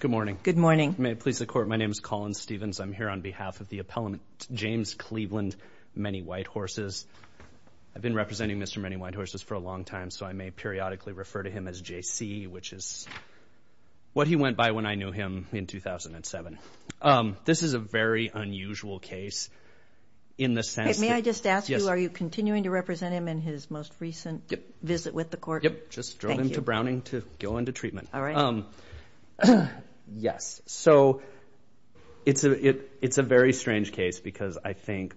Good morning. Good morning. May it please the Court, my name is Colin Stevens. I'm here on behalf of the appellant James Cleveland Many White Horses. I've been representing Mr. Many White Horses for a long time, so I may periodically refer to him as J.C., which is what he went by when I knew him in 2007. This is a very unusual case in the sense that... May I just ask you, are you continuing to represent him in his most recent visit with the Court? Yep, just drove him to Browning to go into treatment. All right. Yes, so it's a very strange case because I think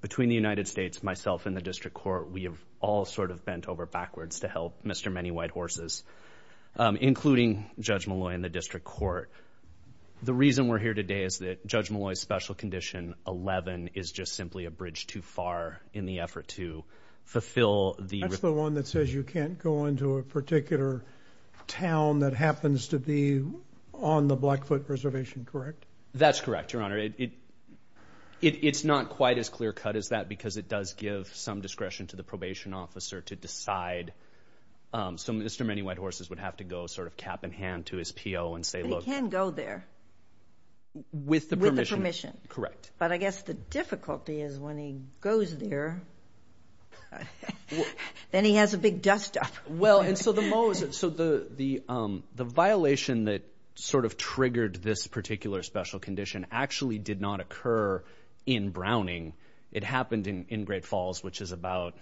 between the United States, myself, and the District Court, we have all sort of bent over backwards to help Mr. Many White Horses, including Judge Molloy and the District Court. The reason we're here today is that Judge Molloy's special condition, 11, is just simply a bridge too far in the effort to fulfill the... He's the one that says you can't go into a particular town that happens to be on the Blackfoot Reservation, correct? That's correct, Your Honor. It's not quite as clear cut as that because it does give some discretion to the probation officer to decide. So Mr. Many White Horses would have to go sort of cap in hand to his P.O. and say, look... He can go there. With the permission. With the permission. Correct. But I guess the difficulty is when he goes there, then he has a big dust up. Well, and so the violation that sort of triggered this particular special condition actually did not occur in Browning. It happened in Great Falls, which is about,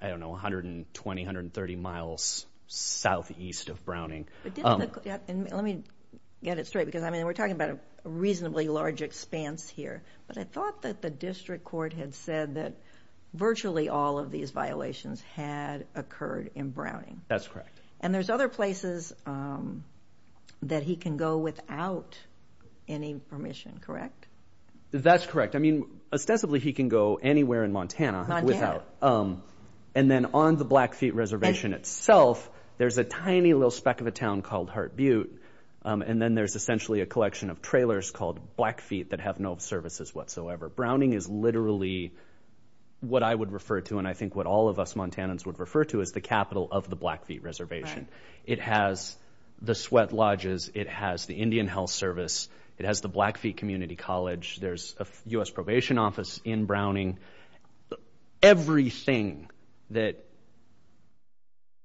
I don't know, 120, 130 miles southeast of Browning. Let me get it straight because, I mean, we're talking about a reasonably large expanse here. But I thought that the District Court had said that virtually all of these violations had occurred in Browning. That's correct. And there's other places that he can go without any permission, correct? That's correct. I mean, ostensibly he can go anywhere in Montana without... Montana. And then on the Blackfeet Reservation itself, there's a tiny little speck of a town called Hart Butte. And then there's essentially a collection of trailers called Blackfeet that have no services whatsoever. Browning is literally what I would refer to and I think what all of us Montanans would refer to as the capital of the Blackfeet Reservation. It has the sweat lodges. It has the Indian Health Service. It has the Blackfeet Community College. There's a U.S. probation office in Browning. Everything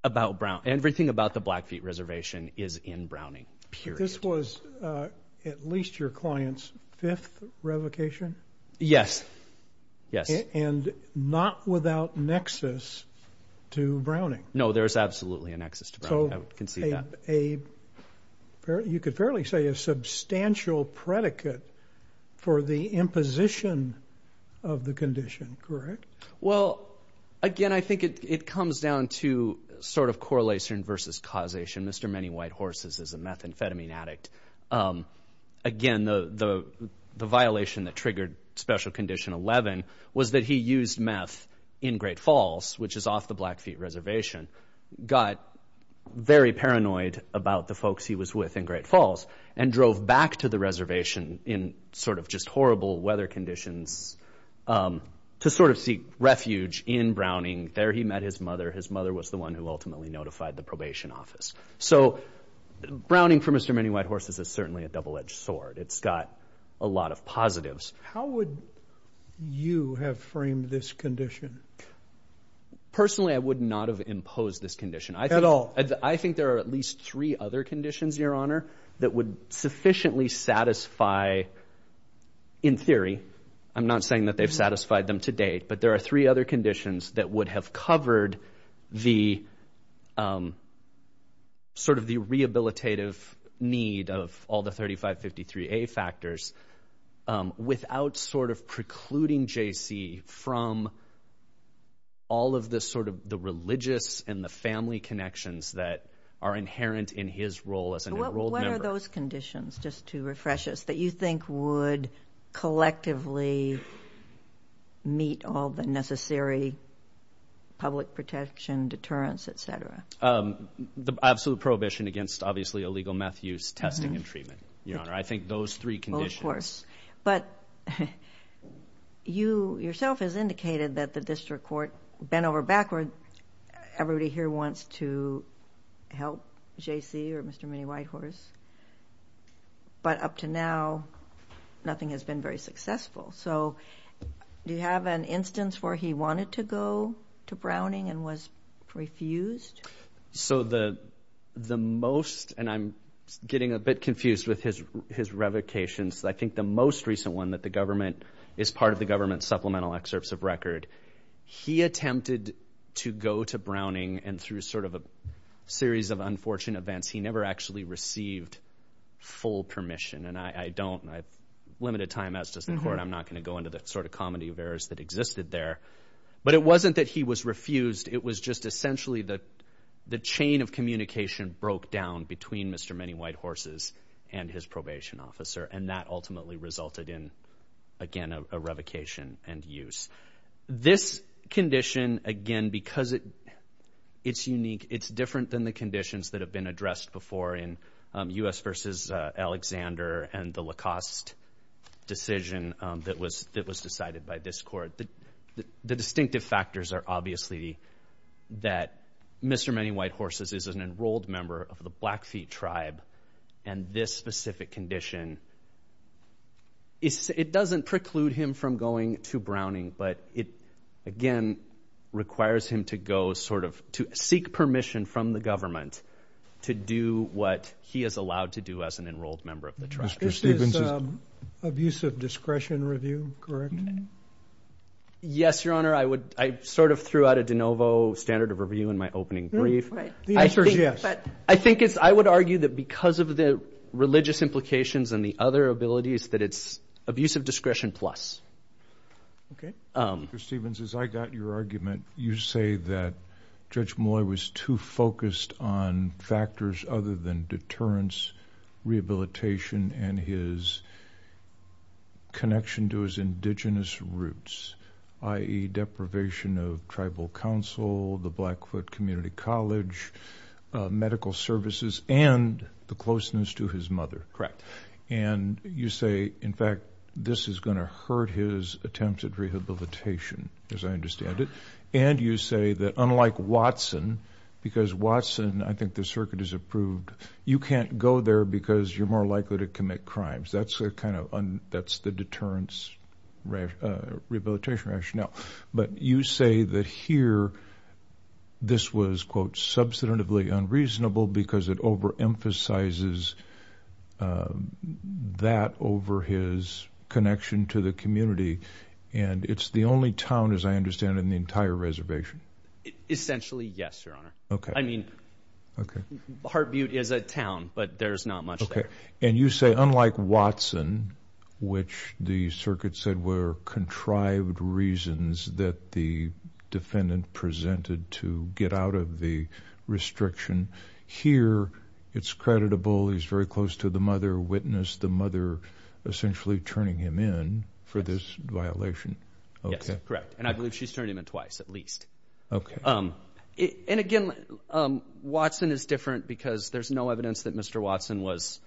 about the Blackfeet Reservation is in Browning, period. This was at least your client's fifth revocation? Yes, yes. And not without nexus to Browning? No, there's absolutely a nexus to Browning. I would concede that. You could fairly say a substantial predicate for the imposition of the condition, correct? Well, again, I think it comes down to sort of correlation versus causation. Mr. Many White Horses is a methamphetamine addict. Again, the violation that triggered Special Condition 11 was that he used meth in Great Falls, which is off the Blackfeet Reservation. Got very paranoid about the folks he was with in Great Falls, and drove back to the reservation in sort of just horrible weather conditions to sort of seek refuge in Browning. There he met his mother. His mother was the one who ultimately notified the probation office. So Browning for Mr. Many White Horses is certainly a double-edged sword. It's got a lot of positives. How would you have framed this condition? Personally, I would not have imposed this condition. At all? I think there are at least three other conditions, Your Honor, that would sufficiently satisfy, in theory. I'm not saying that they've satisfied them to date, but there are three other conditions that would have covered the sort of the rehabilitative need of all the 3553A factors without sort of precluding J.C. from all of the sort of the religious and the family connections that are inherent in his role as an enrolled member. What are those conditions, just to refresh us, that you think would collectively meet all the necessary public protection, deterrence, et cetera? The absolute prohibition against, obviously, illegal meth use, testing, and treatment, Your Honor. I think those three conditions. Of course. But you yourself has indicated that the district court bent over backward. Everybody here wants to help J.C. or Mr. Many White Horse, but up to now, nothing has been very successful. So do you have an instance where he wanted to go to Browning and was refused? So the most, and I'm getting a bit confused with his revocations, I think the most recent one that the government is part of the government supplemental excerpts of record, he attempted to go to Browning and through sort of a series of unfortunate events, he never actually received full permission. And I don't. I've limited time as does the court. I'm not going to go into the sort of comedy of errors that existed there. But it wasn't that he was refused. It was just essentially the chain of communication broke down between Mr. Many White Horses and his probation officer, and that ultimately resulted in, again, a revocation and use. This condition, again, because it's unique, it's different than the conditions that have been addressed before in U.S. versus Alexander and the Lacoste decision that was decided by this court. The distinctive factors are obviously that Mr. Many White Horses is an enrolled member of the Blackfeet tribe, and this specific condition, it doesn't preclude him from going to Browning, but it, again, requires him to go sort of to seek permission from the government to do what he is allowed to do as an enrolled member of the tribe. This is abusive discretion review, correct? Yes, Your Honor. I sort of threw out a de novo standard of review in my opening brief. The answer is yes. I would argue that because of the religious implications and the other abilities, that it's abusive discretion plus. Okay. Mr. Stephens, as I got your argument, you say that Judge Molloy was too focused on factors other than deterrence, rehabilitation, and his connection to his indigenous roots, i.e., deprivation of tribal council, the Blackfoot Community College, medical services, and the closeness to his mother. Correct. And you say, in fact, this is going to hurt his attempts at rehabilitation, as I understand it. And you say that, unlike Watson, because Watson, I think the circuit has approved, you can't go there because you're more likely to commit crimes. That's the deterrence rehabilitation rationale. But you say that here this was, quote, Essentially, yes, Your Honor. Okay. I mean, Hart Butte is a town, but there's not much there. Okay. And you say, unlike Watson, which the circuit said were contrived reasons that the defendant presented to get out of the restriction, here it's creditable, he's very close to the mother, witnessed the mother essentially turning him in for this violation. Yes, correct. And I believe she's turned him in twice at least. Okay. And, again, Watson is different because there's no evidence that Mr. Watson was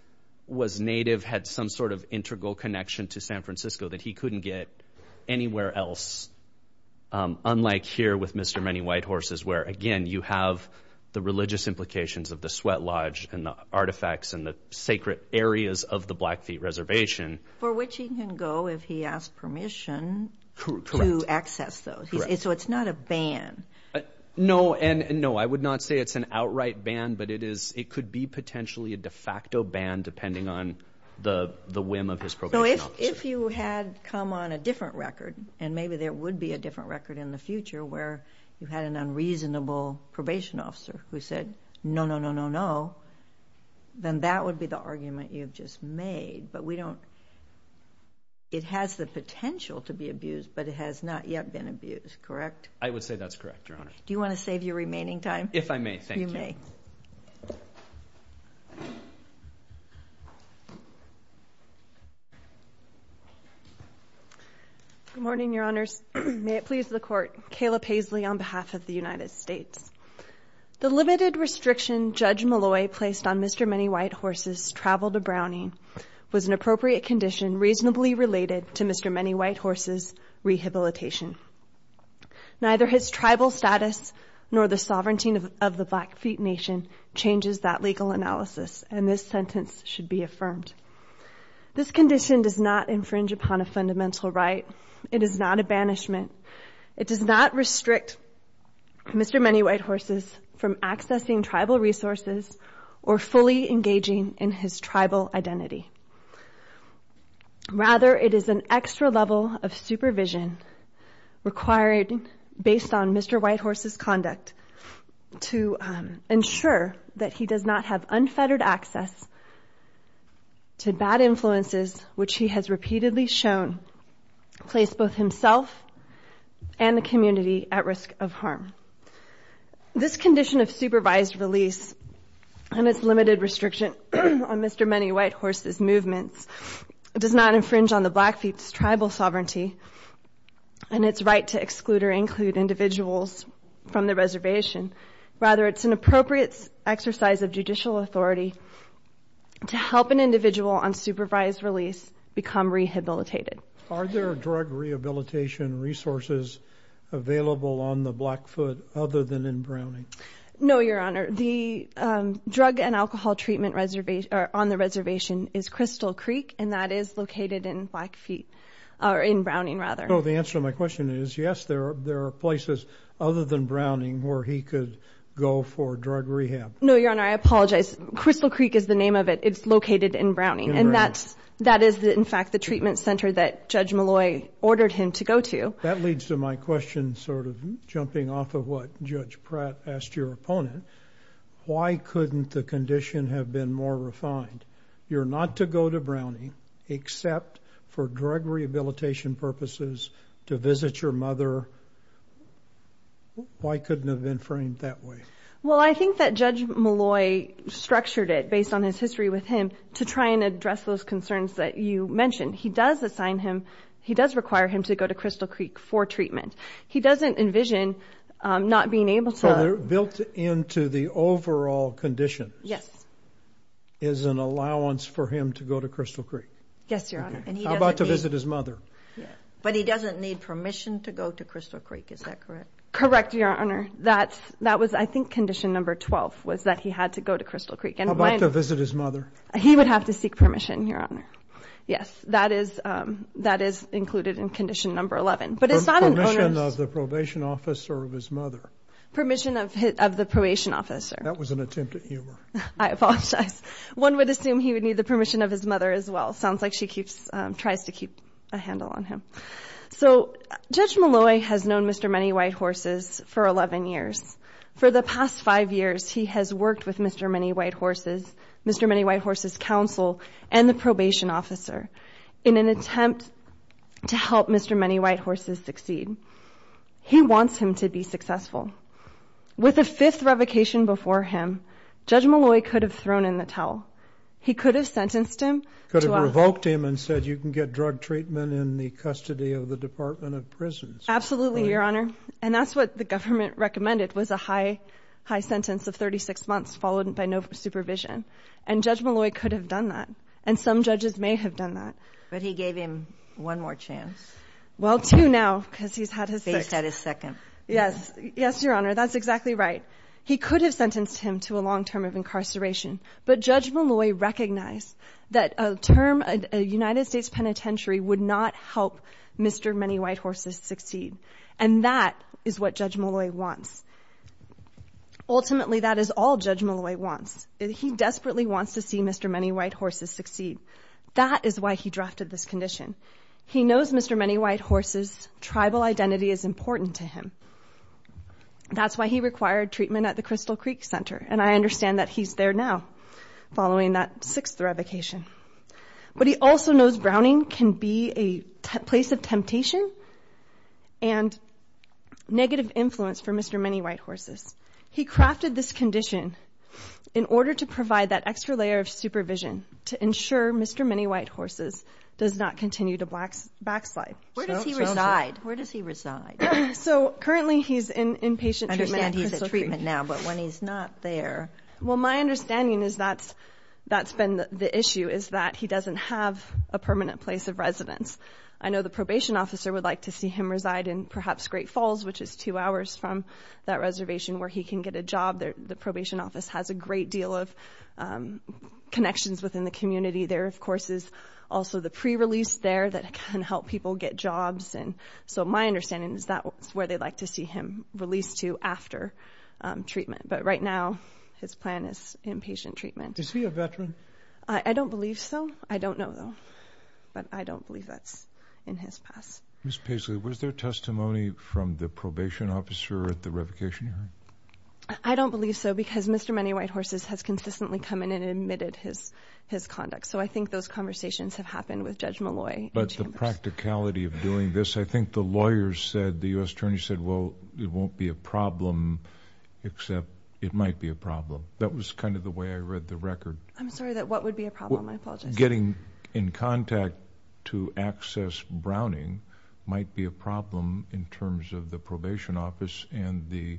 native, had some sort of integral connection to San Francisco that he couldn't get anywhere else, unlike here with Mr. Many White Horses, where, again, you have the religious implications of the sweat lodge and the artifacts and the sacred areas of the Blackfeet Reservation. For which he can go if he asks permission to access those. Correct. So it's not a ban. No. And, no, I would not say it's an outright ban, but it could be potentially a de facto ban depending on the whim of his probation officer. So if you had come on a different record, and maybe there would be a different record in the future where you had an unreasonable probation officer who said, no, no, no, no, no, then that would be the argument you've just made. But we don't – it has the potential to be abused, but it has not yet been abused, correct? I would say that's correct, Your Honor. Do you want to save your remaining time? If I may, thank you. You may. Good morning, Your Honors. May it please the Court. Kayla Paisley on behalf of the United States. The limited restriction Judge Malloy placed on Mr. Many White Horses' travel to Browning was an appropriate condition reasonably related to Mr. Many White Horses' rehabilitation. Neither his tribal status nor the sovereignty of the Blackfeet Nation changes that legal analysis, and this sentence should be affirmed. This condition does not infringe upon a fundamental right. It is not a banishment. It does not restrict Mr. Many White Horses from accessing tribal resources or fully engaging in his tribal identity. Rather, it is an extra level of supervision required based on Mr. White Horses' conduct to ensure that he does not have unfettered access to bad influences, which he has repeatedly shown place both himself and the community at risk of harm. This condition of supervised release and its limited restriction on Mr. Many White Horses' movements does not infringe on the Blackfeet's tribal sovereignty and its right to exclude or include individuals from the reservation. Rather, it's an appropriate exercise of judicial authority to help an individual on supervised release become rehabilitated. Are there drug rehabilitation resources available on the Blackfoot other than in Browning? No, Your Honor. The drug and alcohol treatment on the reservation is Crystal Creek, and that is located in Browning. So the answer to my question is yes, there are places other than Browning where he could go for drug rehab. No, Your Honor, I apologize. Crystal Creek is the name of it. It's located in Browning, and that is, in fact, the treatment center that Judge Malloy ordered him to go to. That leads to my question sort of jumping off of what Judge Pratt asked your opponent. Why couldn't the condition have been more refined? You're not to go to Browning except for drug rehabilitation purposes, to visit your mother. Why couldn't it have been framed that way? Well, I think that Judge Malloy structured it based on his history with him to try and address those concerns that you mentioned. He does assign him, he does require him to go to Crystal Creek for treatment. He doesn't envision not being able to. So built into the overall condition is an allowance for him to go to Crystal Creek? Yes, Your Honor. How about to visit his mother? But he doesn't need permission to go to Crystal Creek, is that correct? Correct, Your Honor. That was, I think, condition number 12 was that he had to go to Crystal Creek. How about to visit his mother? He would have to seek permission, Your Honor. Yes, that is included in condition number 11. Permission of the probation officer of his mother? Permission of the probation officer. That was an attempt at humor. I apologize. One would assume he would need the permission of his mother as well. Sounds like she tries to keep a handle on him. So Judge Malloy has known Mr. Many White Horses for 11 years. For the past five years, he has worked with Mr. Many White Horses. Mr. Many White Horses' counsel and the probation officer in an attempt to help Mr. Many White Horses succeed. He wants him to be successful. With a fifth revocation before him, Judge Malloy could have thrown in the towel. He could have sentenced him. Could have revoked him and said you can get drug treatment in the custody of the Department of Prisons. Absolutely, Your Honor. And that's what the government recommended was a high sentence of 36 months followed by no supervision. And Judge Malloy could have done that. And some judges may have done that. But he gave him one more chance. Well, two now because he's had his sixth. He's had his second. Yes. Yes, Your Honor. That's exactly right. He could have sentenced him to a long term of incarceration. But Judge Malloy recognized that a term, a United States penitentiary, would not help Mr. Many White Horses succeed. And that is what Judge Malloy wants. Ultimately, that is all Judge Malloy wants. He desperately wants to see Mr. Many White Horses succeed. That is why he drafted this condition. He knows Mr. Many White Horses' tribal identity is important to him. That's why he required treatment at the Crystal Creek Center. And I understand that he's there now following that sixth revocation. But he also knows Browning can be a place of temptation and negative influence for Mr. Many White Horses. He crafted this condition in order to provide that extra layer of supervision to ensure Mr. Many White Horses does not continue to backslide. Where does he reside? Where does he reside? So currently he's in inpatient treatment at Crystal Creek. I understand he's in treatment now, but when he's not there. Well, my understanding is that's been the issue, is that he doesn't have a permanent place of residence. I know the probation officer would like to see him reside in perhaps Great Falls, which is two hours from that reservation where he can get a job. The probation office has a great deal of connections within the community. There, of course, is also the pre-release there that can help people get jobs. And so my understanding is that's where they'd like to see him released to after treatment. But right now his plan is inpatient treatment. Is he a veteran? I don't believe so. I don't know, though. But I don't believe that's in his past. Ms. Paisley, was there testimony from the probation officer at the revocation area? I don't believe so because Mr. Many White Horses has consistently come in and admitted his conduct. So I think those conversations have happened with Judge Malloy. But the practicality of doing this, I think the lawyers said, the U.S. Attorney said, well, it won't be a problem except it might be a problem. That was kind of the way I read the record. I'm sorry. What would be a problem? I apologize. Getting in contact to access Browning might be a problem in terms of the probation office and the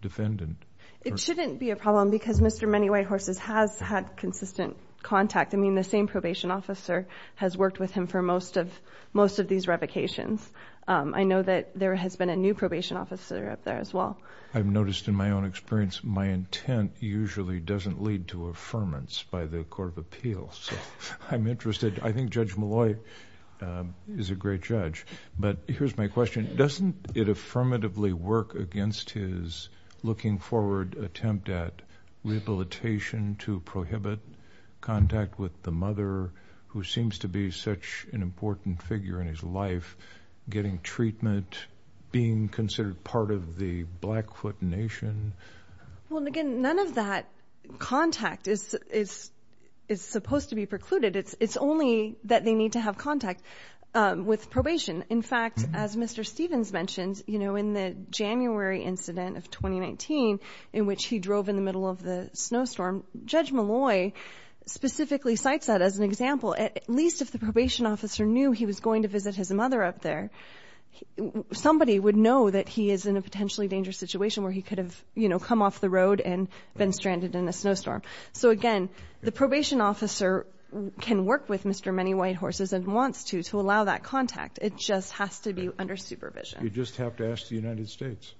defendant. It shouldn't be a problem because Mr. Many White Horses has had consistent contact. I mean, the same probation officer has worked with him for most of these revocations. I know that there has been a new probation officer up there as well. I've noticed in my own experience my intent usually doesn't lead to affirmance by the Court of Appeals. So I'm interested. I think Judge Malloy is a great judge. But here's my question. Doesn't it affirmatively work against his looking-forward attempt at rehabilitation, to prohibit contact with the mother who seems to be such an important figure in his life, getting treatment, being considered part of the Blackfoot Nation? Well, again, none of that contact is supposed to be precluded. It's only that they need to have contact with probation. In fact, as Mr. Stevens mentioned, you know, in the January incident of 2019 in which he drove in the middle of the snowstorm, Judge Malloy specifically cites that as an example. At least if the probation officer knew he was going to visit his mother up there, somebody would know that he is in a potentially dangerous situation where he could have, you know, come off the road and been stranded in a snowstorm. So, again, the probation officer can work with Mr. Many White Horses and wants to to allow that contact. It just has to be under supervision. You just have to ask the United States.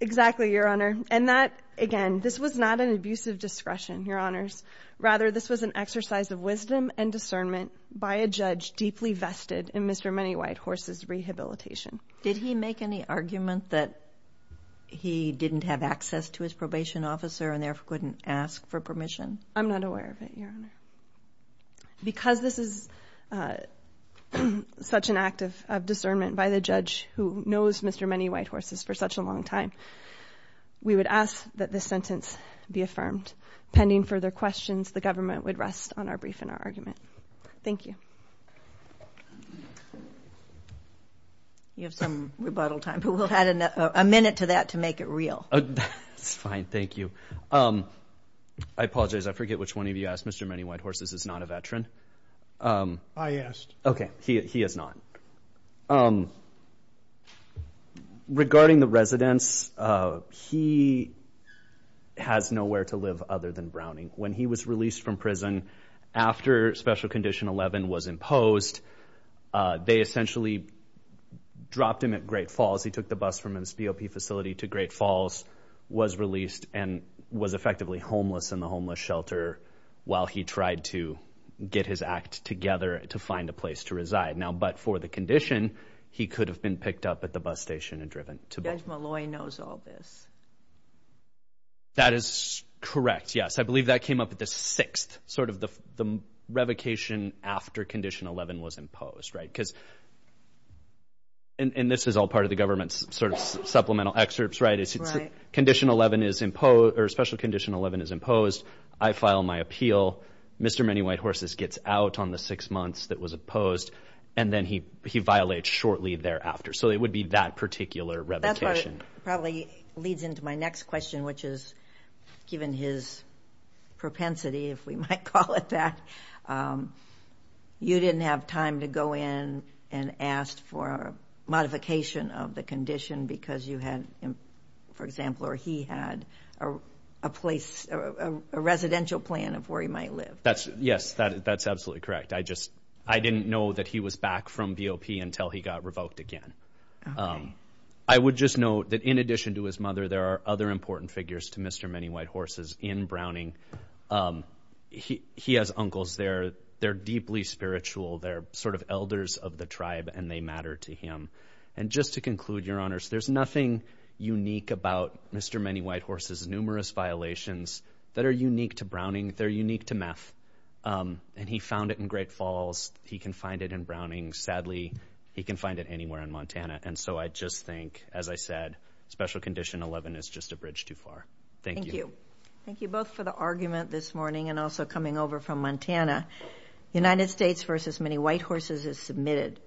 Exactly, Your Honor. And that, again, this was not an abuse of discretion, Your Honors. Rather, this was an exercise of wisdom and discernment by a judge deeply vested in Mr. Many White Horses' rehabilitation. Did he make any argument that he didn't have access to his probation officer and therefore couldn't ask for permission? I'm not aware of it, Your Honor. Because this is such an act of discernment by the judge who knows Mr. Many White Horses for such a long time, we would ask that this sentence be affirmed. Pending further questions, the government would rest on our brief and our argument. Thank you. You have some rebuttal time, but we'll add a minute to that to make it real. That's fine. Thank you. I apologize. I forget which one of you asked. Mr. Many White Horses is not a veteran. I asked. Okay. He is not. Regarding the residence, he has nowhere to live other than Browning. When he was released from prison after Special Condition 11 was imposed, they essentially dropped him at Great Falls. He took the bus from his BOP facility to Great Falls, was released, and was effectively homeless in the homeless shelter while he tried to get his act together to find a place to reside. But for the condition, he could have been picked up at the bus station and driven to Browning. Judge Malloy knows all this. That is correct, yes. I believe that came up at the 6th, sort of the revocation after Condition 11 was imposed. And this is all part of the government's sort of supplemental excerpts, right? Right. Condition 11 is imposed, or Special Condition 11 is imposed. I file my appeal. Mr. Many White Horses gets out on the six months that was opposed, and then he violates shortly thereafter. So it would be that particular revocation. That probably leads into my next question, which is, given his propensity, if we might call it that, you didn't have time to go in and ask for a modification of the condition because you had, for example, or he had a place, a residential plan of where he might live. Yes, that's absolutely correct. I just didn't know that he was back from BOP until he got revoked again. I would just note that in addition to his mother, there are other important figures to Mr. Many White Horses in Browning. He has uncles there. They're deeply spiritual. They're sort of elders of the tribe, and they matter to him. And just to conclude, Your Honors, there's nothing unique about Mr. Many White Horses' numerous violations that are unique to Browning. They're unique to meth, and he found it in Great Falls. He can find it in Browning. Sadly, he can find it anywhere in Montana. And so I just think, as I said, Special Condition 11 is just a bridge too far. Thank you. Thank you both for the argument this morning and also coming over from Montana. United States v. Many White Horses is submitted.